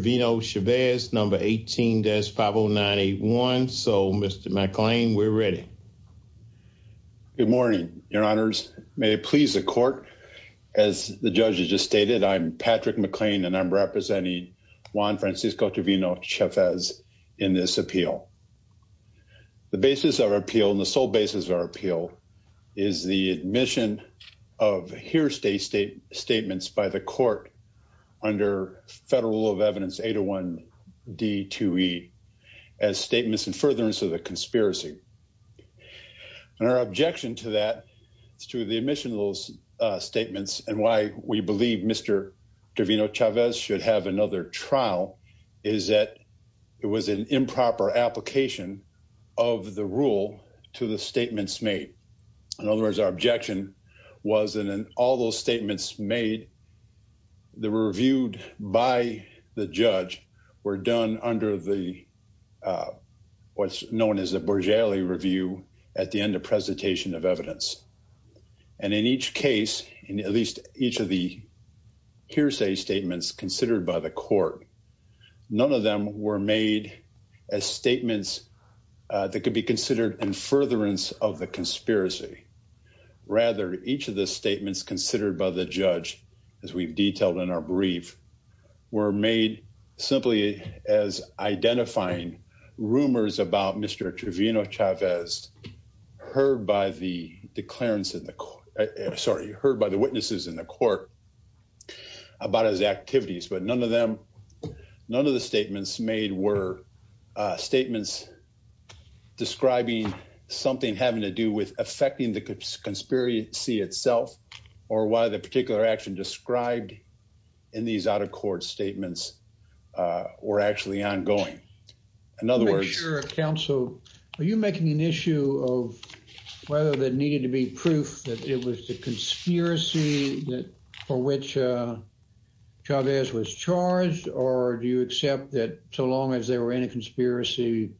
number 18-50981. So, Mr. McClain, we're ready. Good morning, your honors. May it please the court. As the judge has just stated, I'm Patrick McClain and I'm representing Juan Francisco Trevino Chavez in this appeal. The basis of our appeal and the sole basis of our appeal is the admission of here stay state statements by the court under federal rule of evidence 801 D2E as statements in furtherance of the conspiracy. And our objection to that is to the admission of those statements and why we believe Mr. Trevino Chavez should have another trial is that it was an improper application of the rule to the statements made. In other words, our objection was that all those statements made that were reviewed by the judge were done under the what's known as a Borgelli review at the end of presentation of evidence. And in each case, in at least each of the hearsay statements considered by the court, none of them were made as statements that could be considered in furtherance of the conspiracy. Rather, each of the statements considered by the judge, as we've detailed in our brief, were made simply as identifying rumors about Mr. Trevino Chavez heard by the declarants in the court, sorry, heard by the witnesses in the court about his activities. But none of them, none of the statements made were statements describing something having to do with affecting the conspiracy itself or why the particular action described in these out-of-court statements were actually ongoing. In other words, your counsel, are you making an issue of whether there needed to be proof that it was the conspiracy that for which Chavez was charged or do you accept that so long as they were in a conspiracy,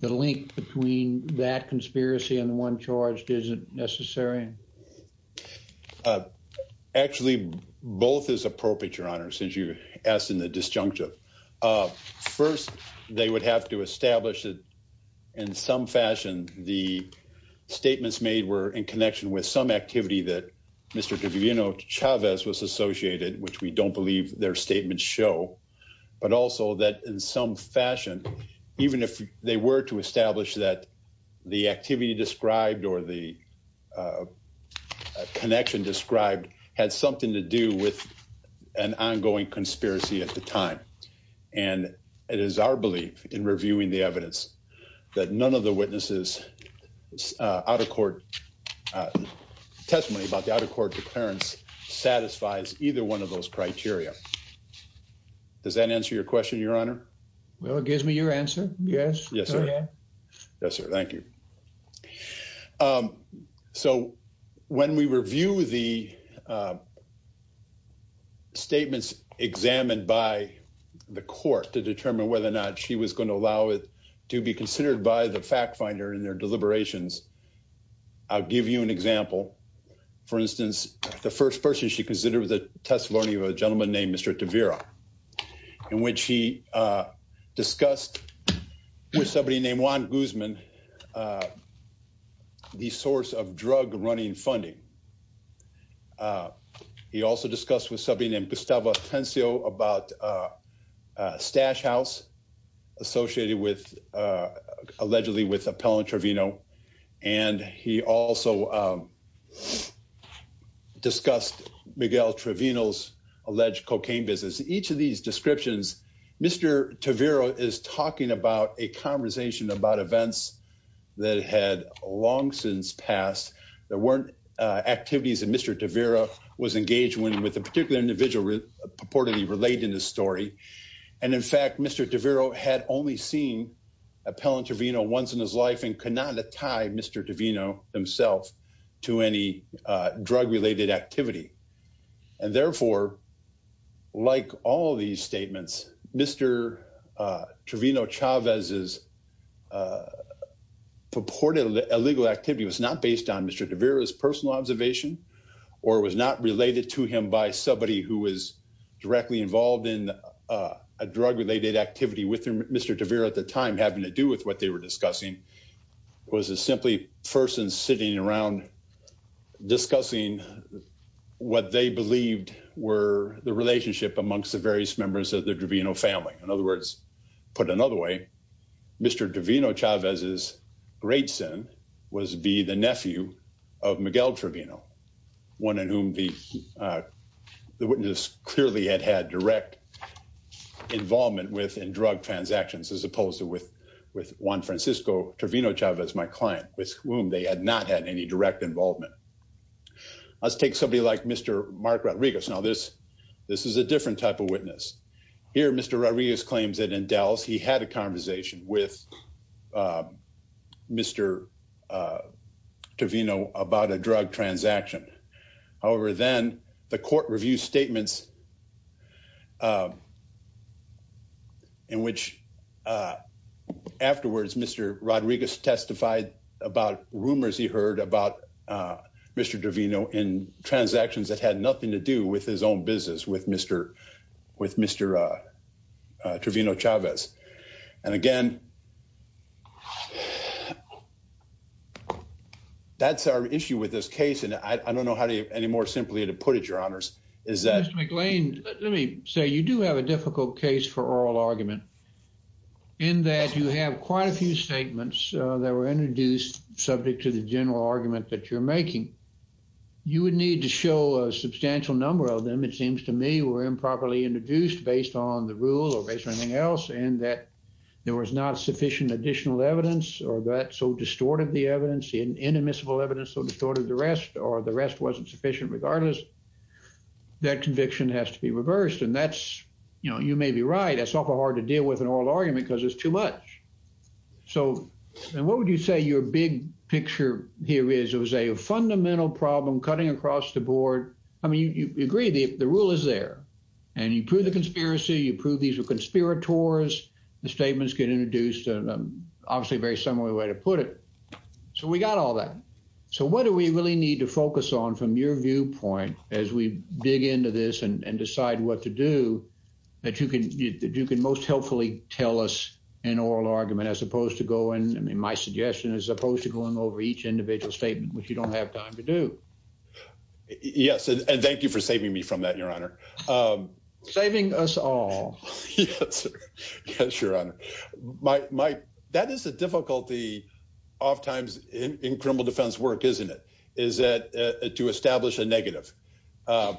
the link between that conspiracy and the one charged isn't necessary? Actually, both is appropriate, your honor, since you asked in the disjunctive. First, they would have to establish that in some fashion the statements made were in connection with some activity that Mr. Trevino Chavez was associated, which we don't believe their statements show, but also that in some fashion, even if they were to establish that the activity described or the connection described had something to do with an ongoing conspiracy at the time. And it is our belief in reviewing the evidence that none of the witnesses out-of-court testimony about the out-of-court declarants satisfies either one of those criteria. Does that answer your question, your honor? Well, it gives me your answer, yes. Yes, sir. Yes, sir. Thank you. So, when we review the statements examined by the court to determine whether or not she was going to allow it to be considered by the fact finder in their deliberations, I'll give you an example. For instance, the first person she considered was a testimony of a gentleman named Mr. Tavira, in which he discussed with somebody named Juan Guzman, the source of drug running funding. He also discussed with somebody named Gustavo Tensio about Stash House, associated with, allegedly with Appellant Trevino, and he also discussed Miguel Trevino's alleged cocaine business. Each of these descriptions, Mr. Tavira is talking about a conversation about events that had long since passed. There weren't activities that Mr. Tavira was engaged when with a particular individual purportedly related in the story. And in fact, Mr. Tavira had only seen Appellant Trevino once in his life and could not tie Mr. Trevino himself to any drug-related activity. And therefore, like all these statements, Mr. Trevino Chavez's purported illegal activity was not based on Mr. Tavira's personal observation or was not related to him by somebody who was directly involved in a drug-related activity with Mr. Tavira at the time having to do with what they were discussing was a simply person sitting around discussing what they believed were the relationship amongst the various members of the Trevino family. In other words, put another way, Mr. Trevino Chavez's great sin was to be the nephew of Miguel Trevino, one in whom the witness clearly had had direct involvement with in drug transactions as opposed to with Juan Francisco Trevino Chavez, my client, with whom they had not had any direct involvement. Let's take somebody like Mr. Mark Rodriguez. Now, this is a different type of witness. Here, Mr. Rodriguez claims that in Dallas he had a conversation with Mr. Trevino about a drug transaction. However, then the court review statements in which afterwards Mr. Rodriguez testified about rumors he heard about Mr. Trevino in transactions that had nothing to do with his own business with Mr. Trevino Chavez. And again, that's our issue with this case and I don't know how to any more simply to put your honors. Mr. McLean, let me say you do have a difficult case for oral argument in that you have quite a few statements that were introduced subject to the general argument that you're making. You would need to show a substantial number of them, it seems to me, were improperly introduced based on the rule or based on anything else and that there was not sufficient additional evidence or that so distorted the evidence in inadmissible evidence so distorted the rest or the rest wasn't sufficient regardless. That conviction has to be reversed and that's you know you may be right that's awful hard to deal with an oral argument because it's too much. So and what would you say your big picture here is it was a fundamental problem cutting across the board. I mean you agree the the rule is there and you prove the conspiracy, you prove these were conspirators, the statements get introduced and obviously very similar way to put it. So we got all that. So what do we really need to focus on from your viewpoint as we dig into this and decide what to do that you can you can most helpfully tell us an oral argument as opposed to going I mean my suggestion as opposed to going over each individual statement which you don't have time to do. Yes and thank you for saving me from that your honor. Saving us all. Yes your honor. My that is a difficulty oft times in criminal defense work isn't it is that to establish a negative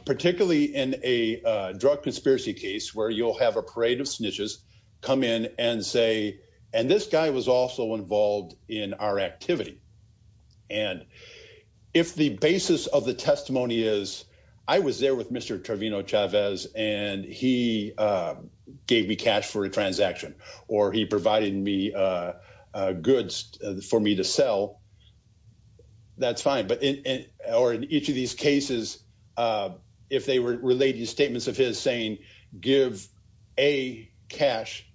particularly in a drug conspiracy case where you'll have a parade of snitches come in and say and this guy was also involved in our activity and if the basis of the testimony is I was there with Mr. Trevino Chavez and he gave me cash for a transaction or he provided me goods for me to sell that's fine but or in each of these cases if they were relating statements of his saying give A cash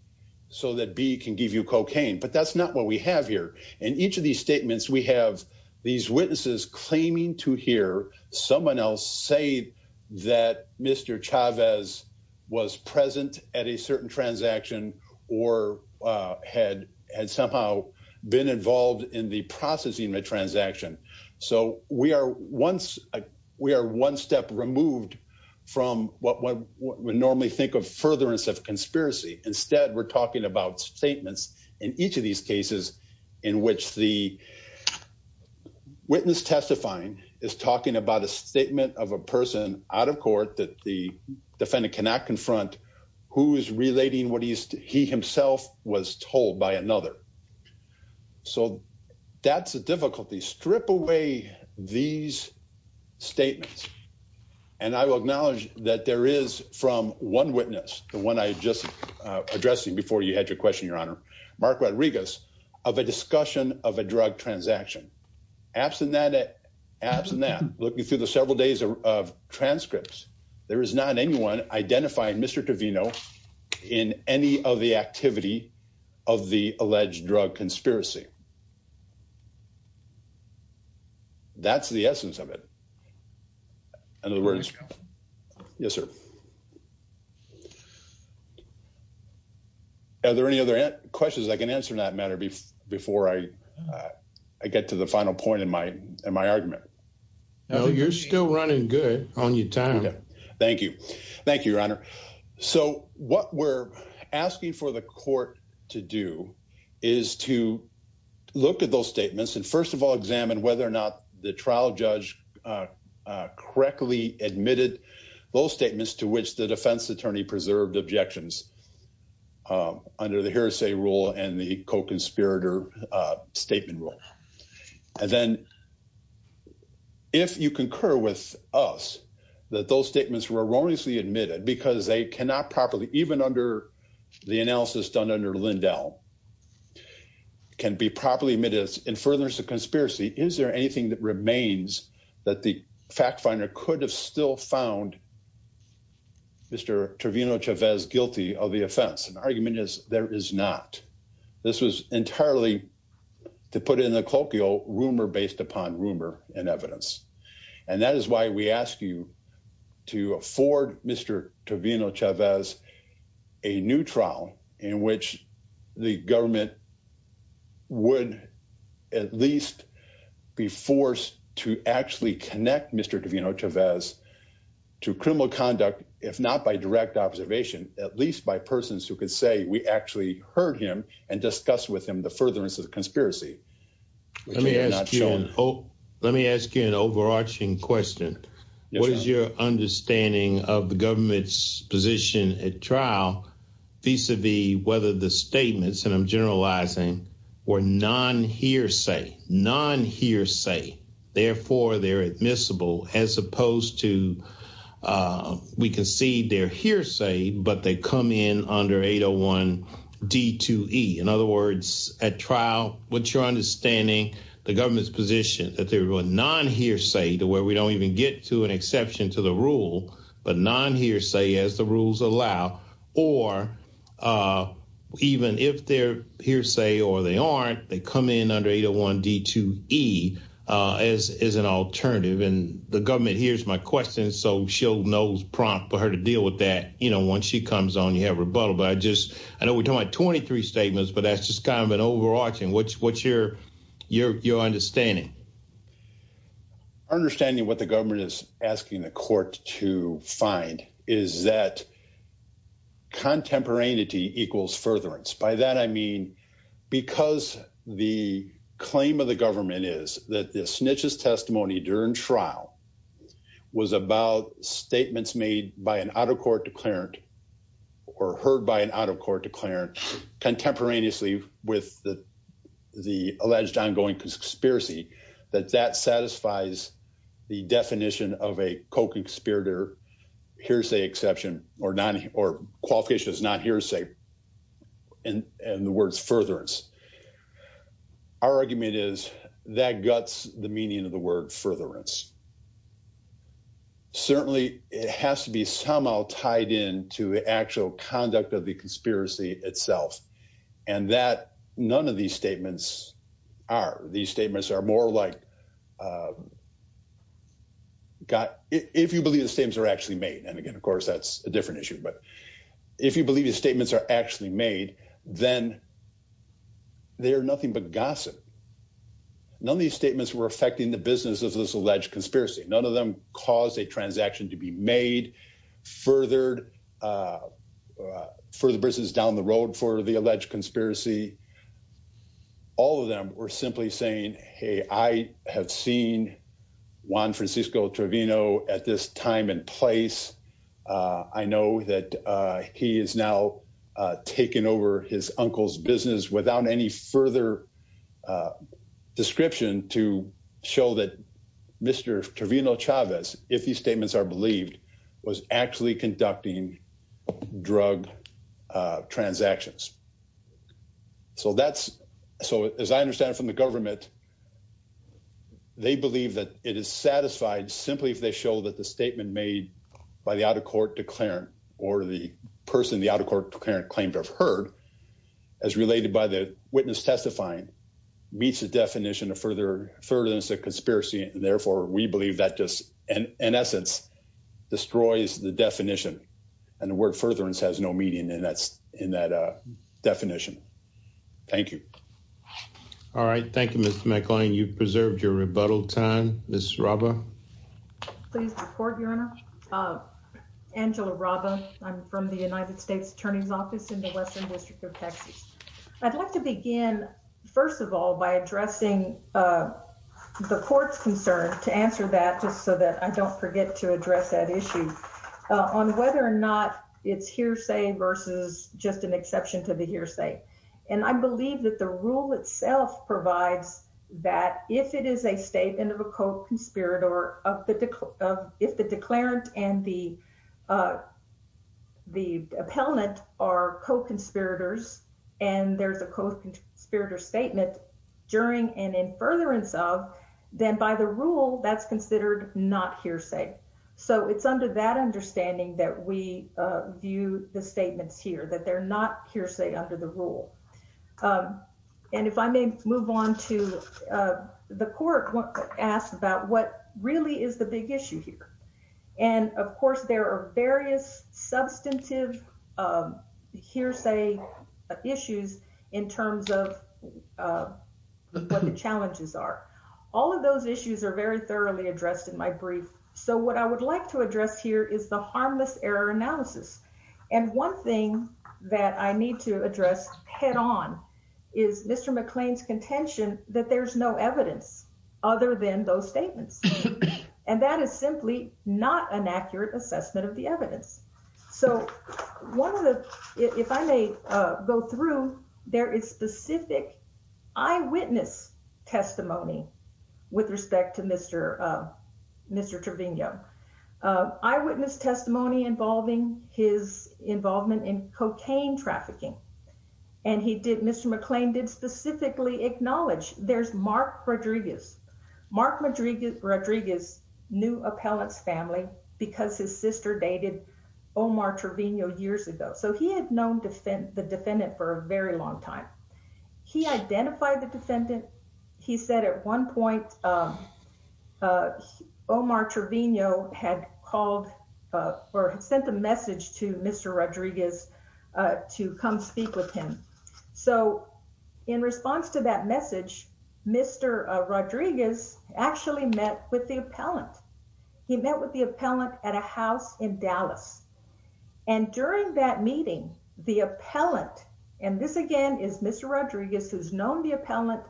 so that B can give you cocaine but that's not what we have here in each of these statements we have these witnesses claiming to hear someone else say that Mr. Chavez was present at a certain transaction or had had somehow been involved in the processing of a transaction so we are once we are one step removed from what we normally think of furtherance of conspiracy instead we're talking about statements in each of these cases in which the witness testifying is talking about a statement of a person out of court that the defendant cannot confront who is relating what he's he himself was told by another so that's a difficulty strip away these statements and I will acknowledge that there is from one witness the one I just addressing before you had your question your honor Mark Rodriguez of a discussion of a drug transaction absent that absent that looking through the several days of transcripts there is not anyone identifying Mr. Trevino in any of the activity of the alleged drug conspiracy that's the essence of it in other words yes sir are there any other questions I can answer in that matter before I I get to the final point in my in my argument no you're still running good on your time thank you thank you your honor so what we're asking for the court to do is to look at those statements and first of all examine whether or not the trial judge correctly admitted those statements to which the defense attorney preserved objections under the hearsay rule and the co-conspirator statement rule and then if you concur with us that those statements were erroneously admitted because they cannot properly even under the analysis done under Lindell can be properly admitted as in furtherance of conspiracy is there anything that remains that the fact finder could have still found Mr. Trevino Chavez guilty of the to put in the colloquial rumor based upon rumor and evidence and that is why we ask you to afford Mr. Trevino Chavez a new trial in which the government would at least be forced to actually connect Mr. Trevino Chavez to criminal conduct if not by direct observation at least by persons who could say we actually heard him and discuss with him the furtherance of the conspiracy let me ask you oh let me ask you an overarching question what is your understanding of the government's position at trial vis-a-vis whether the statements and i'm generalizing were non-hearsay non-hearsay therefore they're admissible as opposed to uh we can see their hearsay but they come in under 801 d2e in other words at trial what's your understanding the government's position that they were non-hearsay to where we don't even get to an exception to the rule but non-hearsay as the rules allow or uh even if they're hearsay or they aren't they come in under 801 d2e uh as is an alternative and the government hears my question so she'll knows prompt for her to deal with that you know once she comes on you have rebuttal but i just i know we're talking about 23 statements but that's just kind of an overarching what's what's your your your understanding understanding what the government is asking the court to find is that contemporaneity equals furtherance by that i mean because the claim of the government is that the snitch's testimony during trial was about statements made by an out-of-court declarant or heard by an out-of-court declarant contemporaneously with the the alleged ongoing conspiracy that that satisfies the definition of a co-conspirator hearsay exception or non or qualification is not hearsay and and the words furtherance our argument is that guts the meaning of the word furtherance certainly it has to be somehow tied in to the actual conduct of the conspiracy itself and that none of these statements are these statements are more like god if you believe the statements are actually made and again of course that's a different issue but if you believe the statements are actually made then they are nothing but gossip none of these statements were affecting the business of this alleged conspiracy none of them caused a transaction to be made furthered further business down the road for the alleged conspiracy all of them were simply saying hey i have seen juan francisco travino at this time and place i know that he is now taking over his uncle's business without any further description to show that mr travino chavez if these statements are believed was actually conducting drug transactions so that's so as i understand from the government they believe that it is satisfied simply if they show that the statement made by the out-of-court declarant or the person the out-of-court parent claimed to have heard as related by the witness testifying meets the definition of further further than it's a conspiracy and therefore we believe that just in essence destroys the definition and the word furtherance has no meaning and that's in that uh definition thank you all right thank you mr mclean you've preserved your rebuttal time miss robber please report your honor uh angela robber i'm from the united states attorney's office in the western district of texas i'd like to begin first of all by addressing uh the court's concern to answer that just so that i don't forget to address that issue on whether or not it's hearsay versus just an exception to the hearsay and i believe that the rule itself provides that if it is a statement of a co-conspirator of the of if the declarant and the uh the appellant are co-conspirators and there's a co-conspirator statement during and in furtherance of then by the rule that's considered not hearsay so it's under that understanding that we uh view the statements here that they're not hearsay under the rule um and if i may move on to the court asked about what really is the big issue here and of course there are various substantive hearsay issues in terms of what the challenges are all of those issues are very thoroughly addressed in my brief so what i would like to address here is the harmless error analysis and one thing that i need to address head-on is mr mcclain's contention that there's no evidence other than those statements and that is simply not an accurate assessment of the evidence so one of the if i may uh go through there is specific eyewitness testimony with respect to mr uh mr trevino eyewitness testimony involving his involvement in cocaine trafficking and he did mr mcclain did specifically acknowledge there's mark rodriguez mark madrigal rodriguez new appellant's family because his sister dated omar trevino years ago so he had known defend the defendant for a very long time he identified the defendant he said at one point um uh omar trevino had called uh or sent a message to mr rodriguez uh to come speak with him so in response to that message mr uh rodriguez actually met with the appellant he met with the appellant at a house in dallas and during that meeting the appellant and this again is mr rodriguez who's known the appellant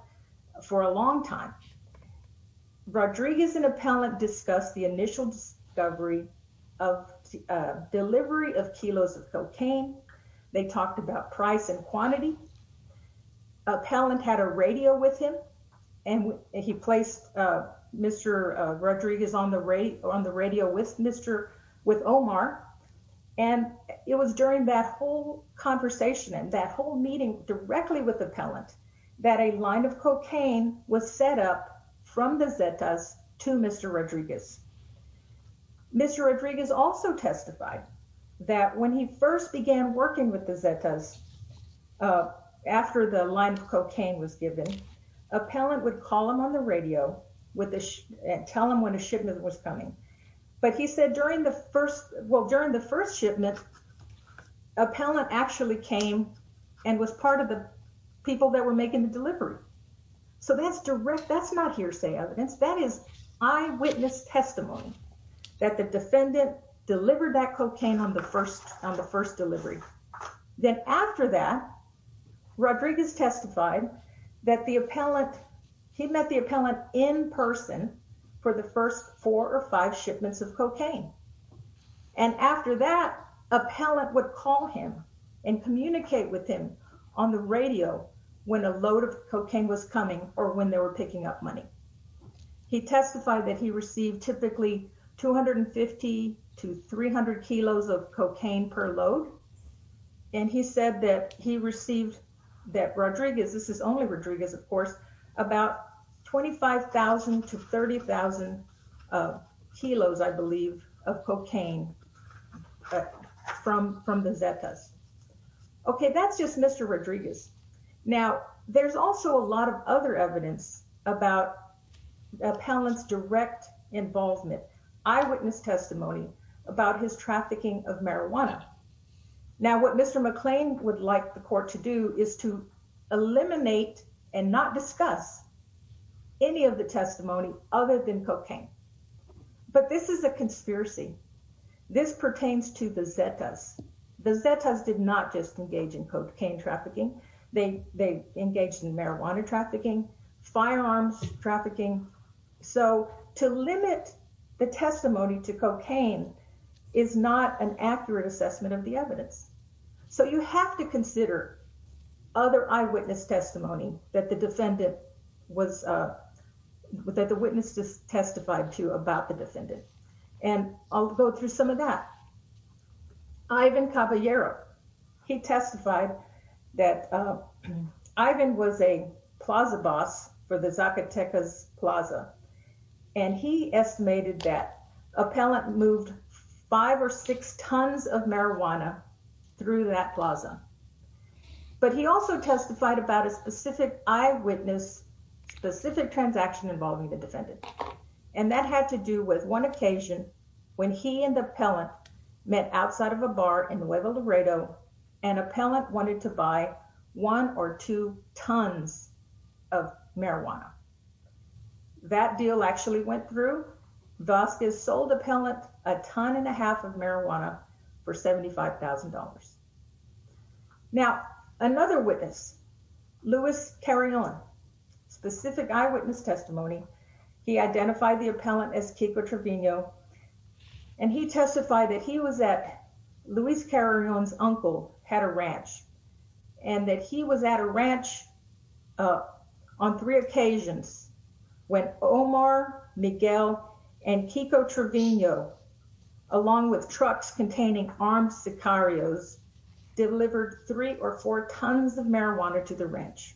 for a long time rodriguez and appellant discussed the initial discovery of delivery of kilos of cocaine they talked about price and quantity appellant had a radio with him and he placed uh mr uh rodriguez on the radio on the radio with mr with omar and it was during that whole conversation and that whole meeting directly with appellant that a line of cocaine was set up from the zetas to mr rodriguez mr rodriguez also testified that when he first began working with the zetas uh after the line of cocaine was given appellant would call him on the radio with the tell him when a shipment was coming but he said during the first well during the first shipment appellant actually came and was part of the people that were making the delivery so that's direct that's not hearsay evidence that is eyewitness testimony that the defendant delivered that cocaine on the first on the first delivery then after that rodriguez testified that the appellant he met the appellant in person for the first four or five shipments of cocaine and after that appellant would call him and communicate with him on the radio when a load of cocaine was coming or when they were picking up money he testified that he received typically 250 to 300 kilos of cocaine per load and he said that he received that rodriguez this is only rodriguez of course about 25 000 to 30 000 kilos i believe of cocaine from from the zetas okay that's just mr rodriguez now there's also a lot of other evidence about appellant's direct involvement eyewitness testimony about his trafficking of marijuana now what mr mcclain would like the court to do is to eliminate and not discuss any of the testimony other than cocaine but this is a conspiracy this pertains to the zetas the zetas did not just engage in cocaine trafficking they they engaged in marijuana trafficking firearms trafficking so to limit the testimony to cocaine is not an accurate assessment of the evidence so you have to consider other eyewitness testimony that the defendant was uh that the witness just testified to about the defendant and i'll go through some of that ivan caballero he testified that uh ivan was a plaza boss for the zacatecas plaza and he estimated that appellant moved five or six tons of marijuana through that plaza but he also testified about a specific eyewitness specific transaction involving the defendant and that had to do with one occasion when he and the appellant met outside of a bar in huevo laredo and appellant wanted to buy one or two tons of marijuana that deal actually went through vasquez sold appellant a ton and a half of marijuana for 75 000 now another witness luis carillon specific eyewitness testimony he identified the appellant as kiko trevino and he testified that he was at luis carillon's uncle had a ranch and that he was at a ranch uh on three occasions when omar miguel and kiko trevino along with trucks containing armed sicarios delivered three or four tons of marijuana to the ranch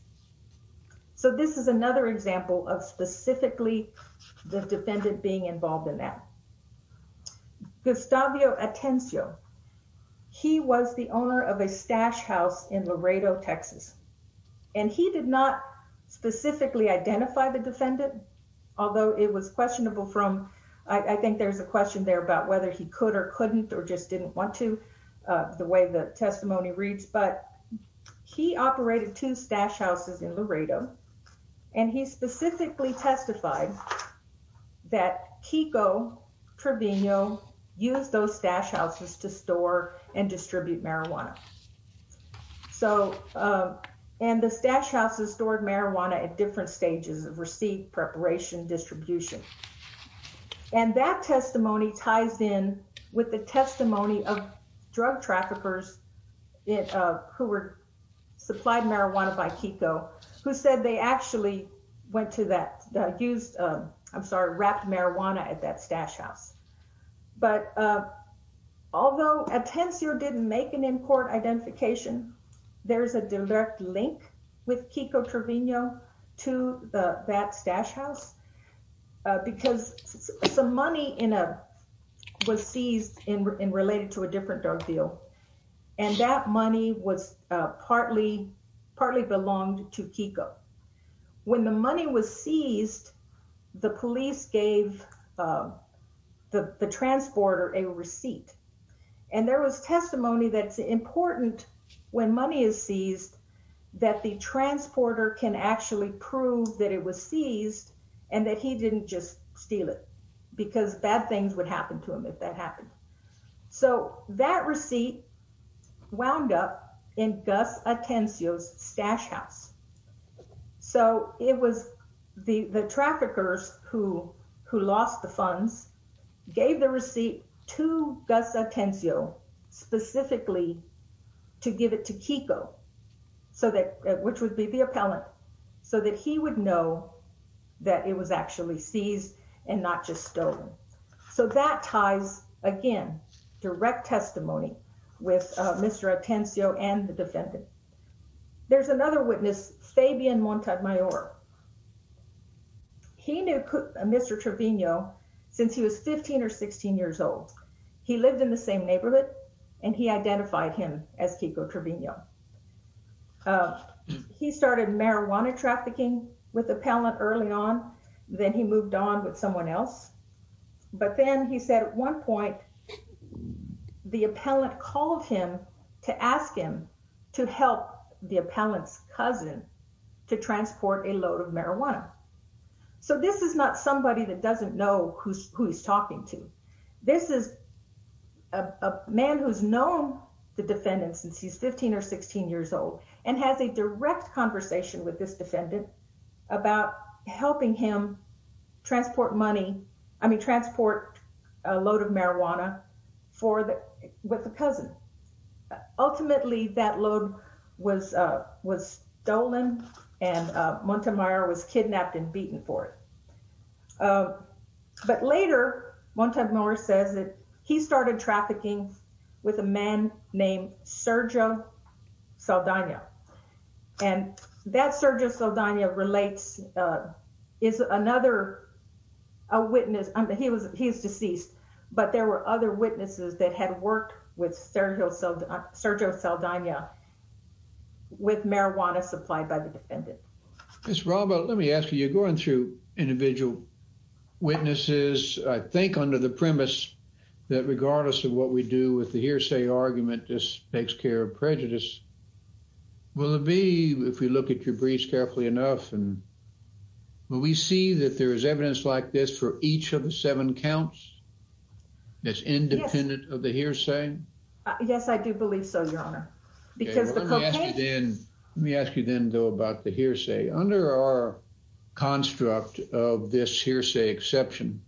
so this is another example of specifically the defendant being involved in that gustavio atencio he was the owner of a stash house in laredo texas and he did not specifically identify the defendant although it was questionable from i think there's a question there about whether he could or couldn't or just didn't want to uh the way the testimony reads but he operated two stash houses in laredo and he specifically testified that kiko trevino used those stash houses to store and distribute marijuana so uh and the stash houses stored marijuana at different stages of receipt preparation distribution and that testimony ties in with the testimony of drug traffickers it uh who were supplied marijuana by kiko who said they actually went to that used um i'm sorry wrapped marijuana at that stash house but uh although atencio didn't make an in-court identification there's a direct link with kiko trevino to the that stash house because some money in a was seized in related to a different drug deal and that money was uh partly partly belonged to kiko when the money was seized the police gave uh the the transporter a receipt and there was testimony that's important when money is seized that the transporter can actually prove that it was seized and that he didn't just steal it because bad things would happen to him if that happened so that receipt wound up in gus atencio's stash house so it was the the traffickers who who lost the funds gave the receipt to gus atencio specifically to give it to kiko so that which would be the appellant so that he would know that it was actually seized and not just stolen so that ties again direct testimony with uh mr atencio and the defendant there's another witness fabian montag mayor he knew mr trevino since he was 15 or 16 years old he lived in the same neighborhood and he identified him as kiko trevino he started marijuana trafficking with appellant early on then he moved on with someone else but then he said at one point the defendant asked him to help the appellant's cousin to transport a load of marijuana so this is not somebody that doesn't know who's who he's talking to this is a man who's known the defendant since he's 15 or 16 years old and has a direct conversation with this defendant about helping him transport money i mean transport a load of marijuana for the with the cousin ultimately that load was uh was stolen and montemayor was kidnapped and beaten for it but later montemayor says that he started trafficking with a man named sergio saldana and that sergio saldana relates uh is another a witness i mean he was he is deceased but there were other witnesses that had worked with sergio so sergio saldana with marijuana supplied by the defendant miss robert let me ask you you're going through individual witnesses i think under the premise that regardless of what we do with the hearsay argument this takes care of prejudice will it be if we look at your briefs carefully enough and when we see that there is evidence like this for each of the seven counts that's independent of the hearsay yes i do believe so your honor because then let me ask you then though about the hearsay under our construct of this hearsay exception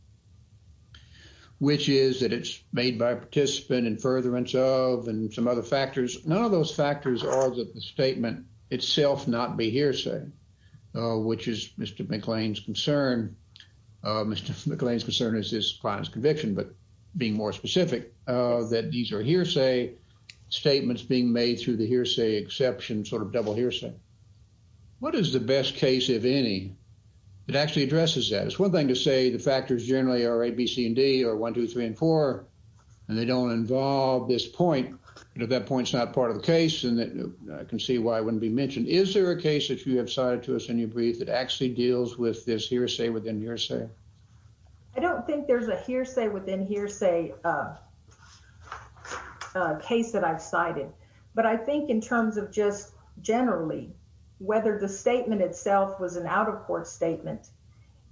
which is that it's made by a participant in furtherance of and some other factors none of those factors are that the statement itself not be hearsay uh which is mr mcclain's concern uh mr mcclain's concern is this client's conviction but being more specific uh that these are hearsay statements being made through the hearsay exception sort of double hearsay what is the best case if any it actually addresses that it's one thing to say the factors generally are a b c and d or one two three and four and they don't involve this point and if that point's not part of the case and that i can see why it wouldn't be mentioned is there a case that you have cited to us in your brief that actually deals with this hearsay within hearsay i don't think there's a hearsay within hearsay uh a case that i've cited but i think in terms of just generally whether the statement itself was an out-of-court statement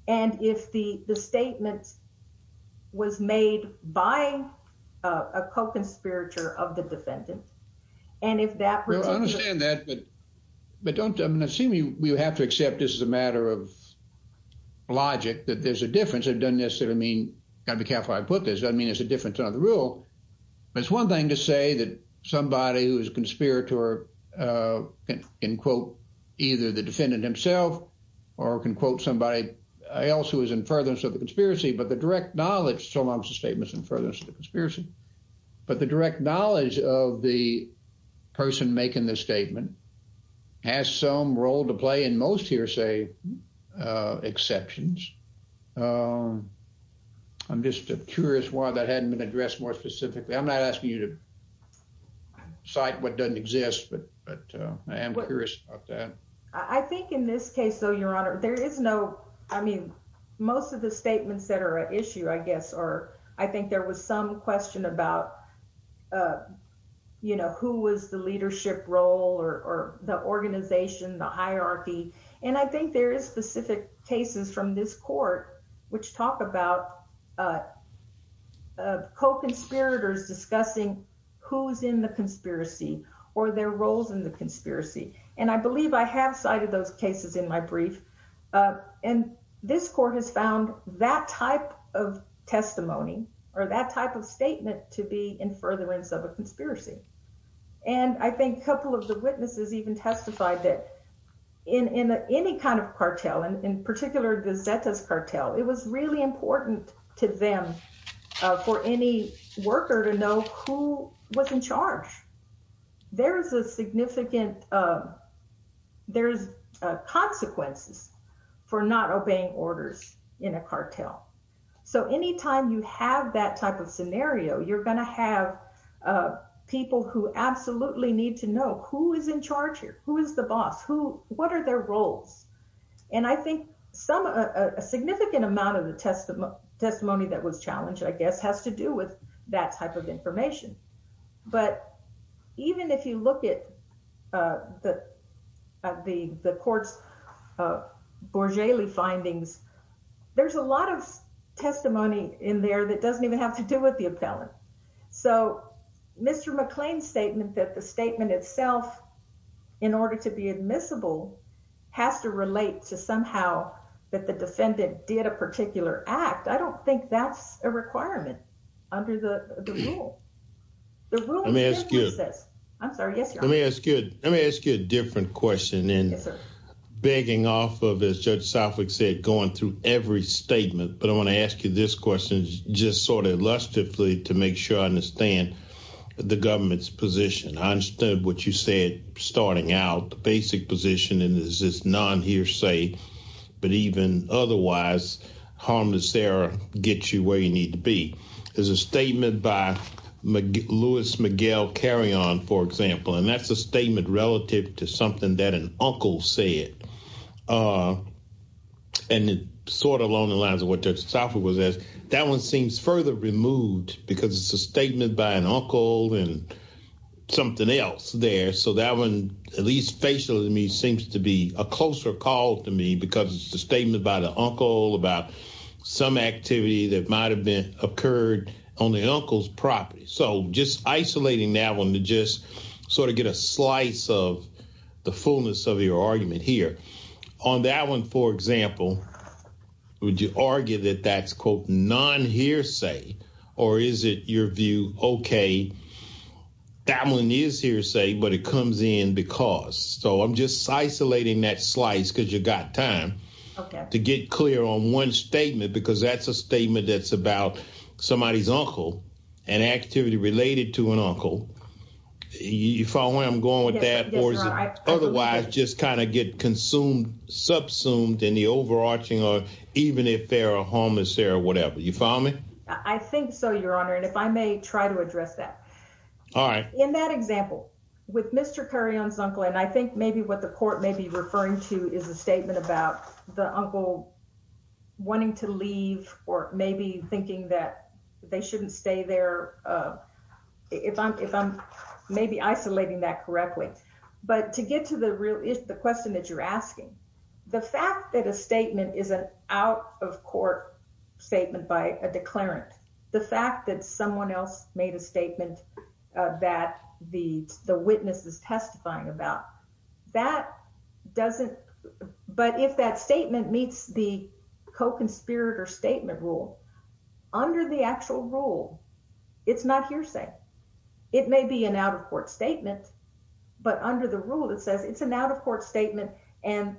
and if the the statement was made by a co-conspirator of the defendant and if that i understand that but but i'm going to assume you have to accept this as a matter of logic that there's a difference it doesn't necessarily mean gotta be careful i put this doesn't mean it's a difference on the rule but it's one thing to say that somebody who is a conspirator uh can quote either the defendant himself or can quote somebody else who is in furtherance of the conspiracy but the direct knowledge so long as the statement's in furtherance of the conspiracy but the direct knowledge of the person making the statement has some role to play in most hearsay uh exceptions um i'm just curious why that hadn't been addressed more specifically i'm not asking you to cite what doesn't exist but but i am curious about that i think in this case though your honor there is no i mean most of the statements that are an issue i guess or i think there was some question about uh you know who was the leadership role or the organization the hierarchy and i think there is specific cases from this court which talk about uh co-conspirators discussing who's in the conspiracy or their roles in the conspiracy and i believe i have cited those cases in my brief and this court has found that type of testimony or that type of statement to be in furtherance of a conspiracy and i think a couple of the witnesses even testified that in in any kind of cartel and in particular the zetas cartel it was really important to them for any worker to know who was in charge there's a significant uh there's consequences for not obeying orders in a cartel so anytime you have that type of scenario you're going to have uh people who absolutely need to know who is in charge here who is the boss who what are their roles and i think some a significant amount of the testimony testimony that was challenged i guess has to do with that type of information but even if you look at uh the at the the court's gorgeli findings there's a lot of testimony in there that doesn't even have to do with the appellant so mr mcclain's statement that the statement itself in order to be admissible has to relate to somehow that the defendant did a particular act i don't think that's a requirement under the the rule let me ask you i'm sorry yes let me ask you let me ask you a different question and begging off of as judge southwick said going through every statement but i want to ask you this question just sort of lustifully to make sure i understand the government's position i understood what you said starting out the basic position and is this non-hearsay but even otherwise harmless error gets you where you need to be there's a statement by lewis mcgill carry on for example and that's a statement relative to something that an uncle said uh and it sort of along the lines of what that software was as that one seems further removed because it's a statement by an uncle and something else there so that one at least facially to me seems to be a closer call to me because it's a statement by the uncle about some activity that might have been occurred on the uncle's property so just isolating that one to just sort of get a slice of the fullness of your argument here on that one for example would you argue that that's quote non-hearsay or is it your view okay that one is hearsay but it comes in because so i'm just isolating that slice because you got time okay to get clear on one statement because that's a statement that's about somebody's uncle and activity related to an uncle you follow where i'm going with that otherwise just kind of get consumed subsumed in the overarching or even if there are homeless there or whatever you follow me i think so your honor and if i may try to address that all right in that example with mr curry on his uncle and i think maybe what the the uncle wanting to leave or maybe thinking that they shouldn't stay there uh if i'm if i'm maybe isolating that correctly but to get to the real is the question that you're asking the fact that a statement is an out of court statement by a declarant the fact that someone else made a statement uh that the the witness is testifying about that doesn't but if that statement meets the co-conspirator statement rule under the actual rule it's not hearsay it may be an out-of-court statement but under the rule it says it's an out-of-court statement and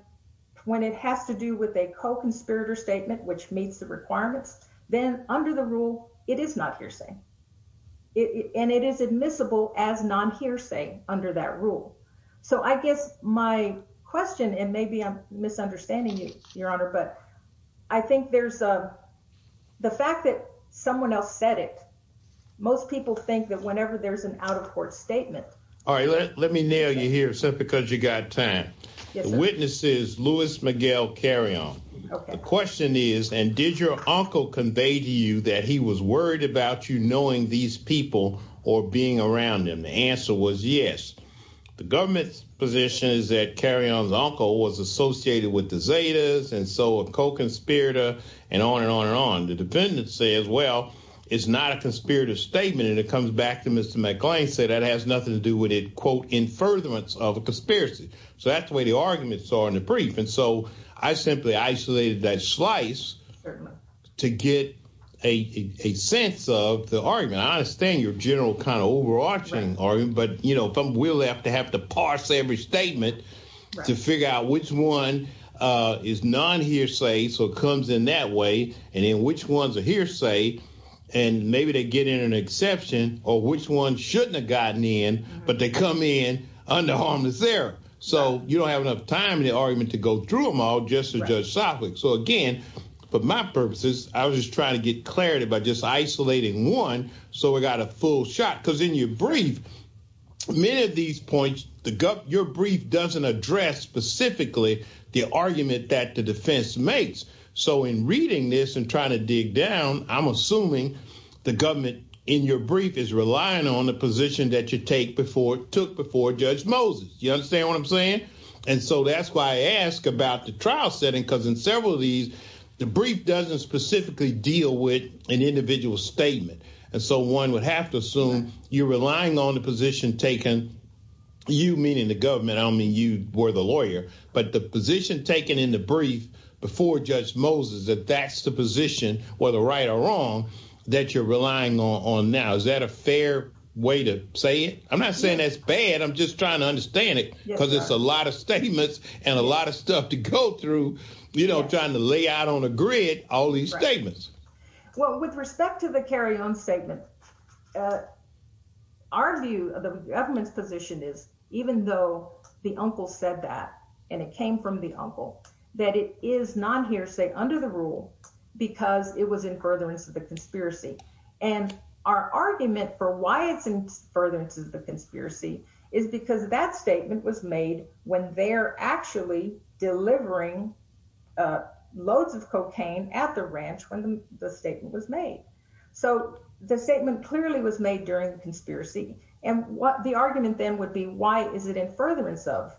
when it has to do with a co-conspirator statement which meets the requirements then under the rule it is not hearsay it and it is admissible as non-hearsay under that rule so i guess my question and maybe i'm misunderstanding you your honor but i think there's a the fact that someone else said it most people think that whenever there's an out-of-court statement all right let me nail you here simply because you got time the witnesses louis miguel carry on okay the question is and did your uncle convey to you that he was worried about you knowing these people or being around them the answer was yes the government's position is that carry on's uncle was associated with the zetas and so a co-conspirator and on and on and on the defendant says well it's not a conspirator statement and it comes back to mr mcglane said that has nothing to do with it quote in furtherance of a conspiracy so that's the way the arguments are in the brief and so i simply isolated that slice to get a a sense of the argument i understand your general kind of overarching argument but you know if i'm will have to have to parse every statement to figure out which one uh is non-hearsay so it comes in that way and then which ones are hearsay and maybe they get in an exception or which one shouldn't have gotten in but they come in under harmless there so you don't have enough time in the argument to go through them all just to judge softly so again for my purposes i was just trying to get clarity by just isolating one so we got a full shot because in your brief many of these points the gut your brief doesn't address specifically the argument that the defense makes so in reading this and trying to dig down i'm assuming the government in your brief is relying on the position that you take before took before judge moses you understand what i'm saying and so that's why i ask about the trial setting because in several of these the brief doesn't specifically deal with an individual statement and so one would have to assume you're relying on the position taken you meaning the government i don't mean you were the lawyer but the position taken in the brief before judge moses that that's the position whether right or wrong that you're relying on on now is that a fair way to say it i'm not saying that's bad i'm just trying to understand it because it's a lot of statements and a lot of stuff to go through you know trying to lay out on a grid all these statements well with respect to the carry-on statement our view of the government's position is even though the uncle said that and it came from the uncle that it is non-hearsay under the rule because it was in furtherance of the conspiracy and our argument for why it's in furtherance of the conspiracy is because that statement was made when they're actually delivering loads of cocaine at the ranch when the statement was made so the statement clearly was made during the conspiracy and what the argument then would be why is it in furtherance of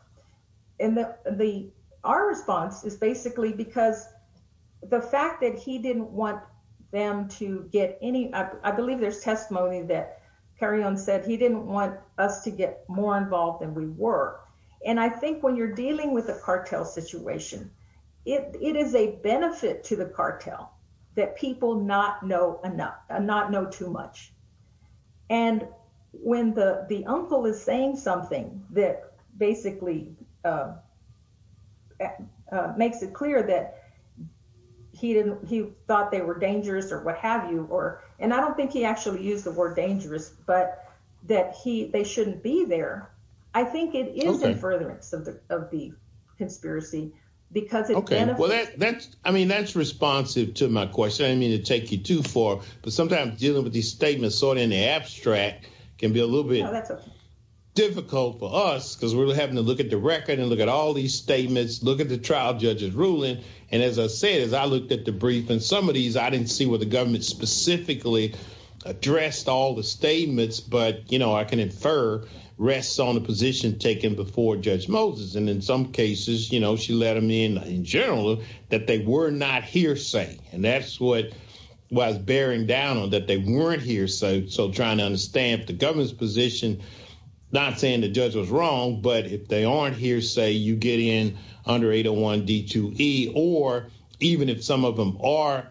and the the our response is basically because the fact that he didn't want them to get any i believe there's testimony that carry-on he didn't want us to get more involved than we were and i think when you're dealing with a cartel situation it it is a benefit to the cartel that people not know enough not know too much and when the the uncle is saying something that basically makes it clear that he didn't he thought they were dangerous or what have you or and i don't think he actually used the but that he they shouldn't be there i think it is in furtherance of the of the conspiracy because okay well that that's i mean that's responsive to my question i didn't mean to take you too far but sometimes dealing with these statements sort of in the abstract can be a little bit difficult for us because we're having to look at the record and look at all these statements look at the trial judge's ruling and as i said as i looked at the brief and some of these i didn't see what the statements but you know i can infer rests on the position taken before judge moses and in some cases you know she let him in in general that they were not hearsay and that's what was bearing down on that they weren't here so so trying to understand the government's position not saying the judge was wrong but if they aren't here say you get in under 801 d2e or even if some of them are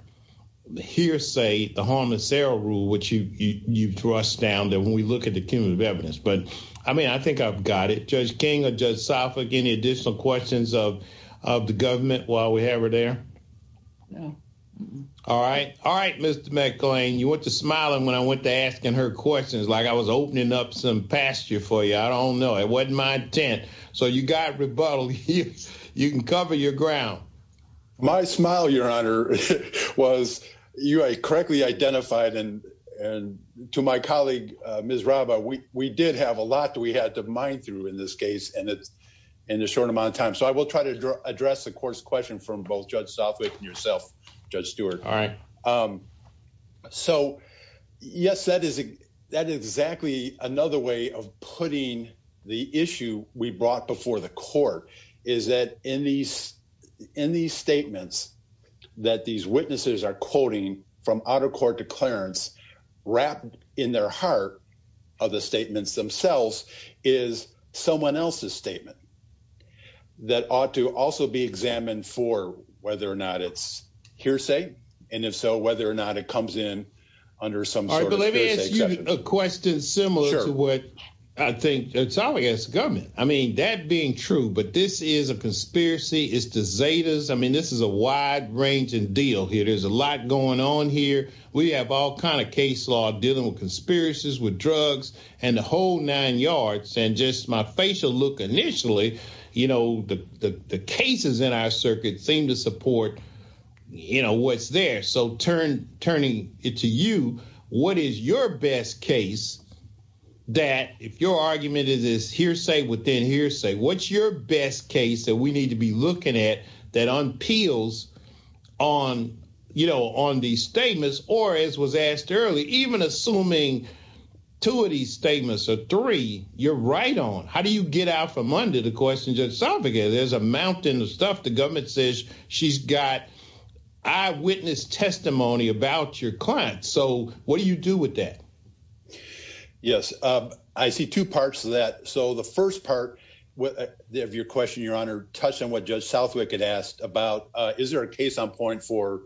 hearsay the harmless error rule which you you thrust down that when we look at the cumulative evidence but i mean i think i've got it judge king or judge sapphic any additional questions of of the government while we have her there all right all right mr mcclain you went to smiling when i went to asking her questions like i was opening up some pasture for you i don't know it wasn't my intent so you got rebuttal you you can cover your ground my smile your honor was you correctly identified and and to my colleague uh ms raba we we did have a lot that we had to mine through in this case and it's in a short amount of time so i will try to address the court's question from both judge softly and yourself judge stewart all right um so yes that is that exactly another way of putting the issue we brought before the court is that in these in these statements that these witnesses are quoting from auto court declarants wrapped in their heart of the statements themselves is someone else's statement that ought to also be examined for whether or not it's hearsay and if so whether or not it comes in under some sort of let me ask you a question similar to what i think it's all against government i mean that being true but this is a conspiracy it's the zetas i mean this is a wide ranging deal here there's a lot going on here we have all kind of case law dealing with conspiracies with drugs and the whole nine yards and just my facial look initially you know the the cases in our circuit seem to support you know what's there so turn turning it to you what is your best case that if your argument is hearsay within hearsay what's your best case that we need to be looking at that unpeels on you know on these statements or as was asked early even assuming two of these statements or three you're right on how do you get out from under the question just something there's a mountain of stuff the government says she's got eyewitness testimony about your client so what do you do with that yes i see two parts of that so the first part of your question your honor touched on what judge southwick had asked about is there a case on point for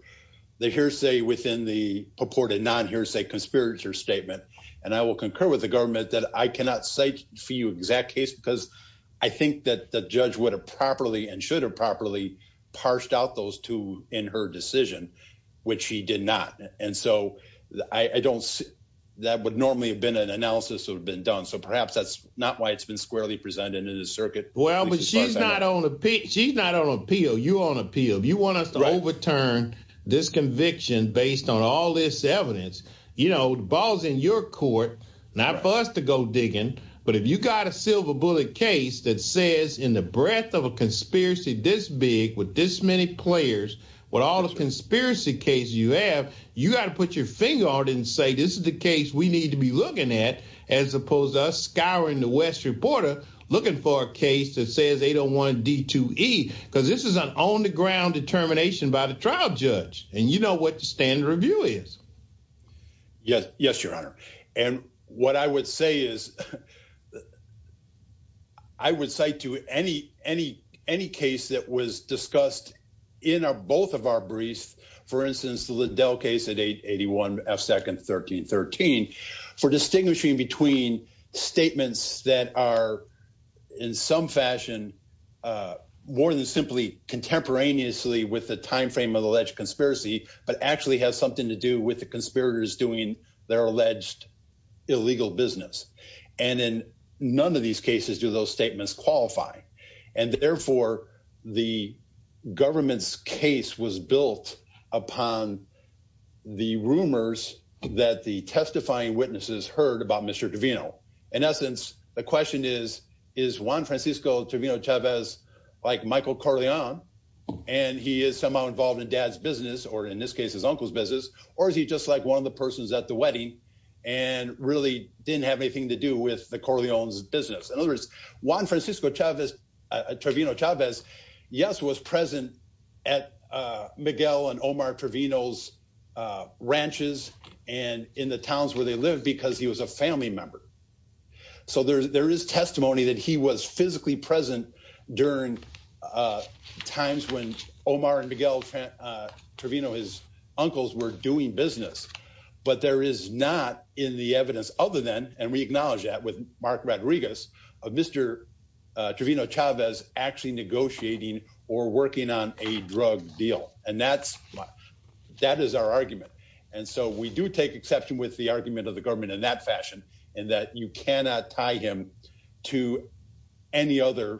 the hearsay within the purported non-hearsay conspirator statement and i will concur with the government that i cannot cite for you exact case because i think that the judge would have properly and should have properly parsed out those two in her decision which he did not and so i i don't see that would normally have been an analysis would have been done so perhaps that's not why it's been squarely presented in the circuit well but she's not on the pitch she's not on appeal you on appeal you want us to overturn this conviction based on all this evidence you know the ball's in your court not for us to go digging but if you got a silver bullet case that says in the breadth of a conspiracy this big with this many players with all the conspiracy cases you have you got to put your finger on it and say this is the case we need to be looking at as opposed to us scouring the west reporter looking for a case that says they don't want d2e because this is an on the ground determination by the trial judge and you know what the standard review is yes yes your honor and what i would say is that i would cite to any any any case that was discussed in our both of our briefs for instance the liddell case at 881 f second 13 13 for distinguishing between statements that are in some fashion uh more than simply contemporaneously with the time frame of alleged conspiracy but actually has something to do with conspirators doing their alleged illegal business and in none of these cases do those statements qualify and therefore the government's case was built upon the rumors that the testifying witnesses heard about mr davino in essence the question is is juan francisco to vino chavez like michael carlion and he is somehow involved in dad's business or in this case his uncle's business or is he just like one of the persons at the wedding and really didn't have anything to do with the carlion's business in other words juan francisco chavez travino chavez yes was present at uh miguel and omar travino's uh ranches and in the towns where they lived because he was a family member so there's there is testimony that he was physically present during uh times when omar and miguel travino his uncles were doing business but there is not in the evidence other than and we acknowledge that with mark rodriguez of mr travino chavez actually negotiating or working on a drug deal and that's that is our argument and so we do take exception with the argument of the government in that fashion and that you cannot tie him to any other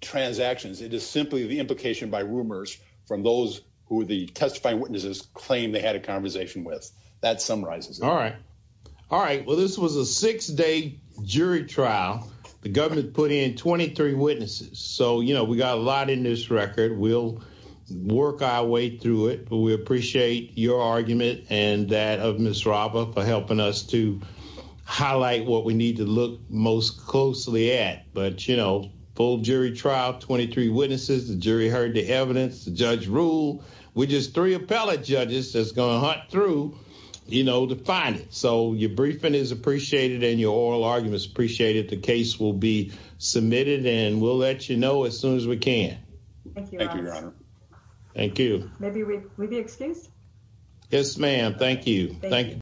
transactions it is simply the implication by rumors from those who the testifying witnesses claim they had a conversation with that summarizes all right all right well this was a six-day jury trial the government put in 23 witnesses so you know we got a lot in this record we'll work our way through it but we appreciate your argument and that of miss rava for helping us to highlight what we need to look most closely at but you know full jury trial 23 witnesses the jury heard the evidence the judge rule we just three appellate judges that's gonna hunt through you know to find it so your briefing is appreciated and your oral arguments appreciated the case will be submitted and we'll let you know as soon as we can thank you thank you maybe we'll be excused yes ma'am thank you thank you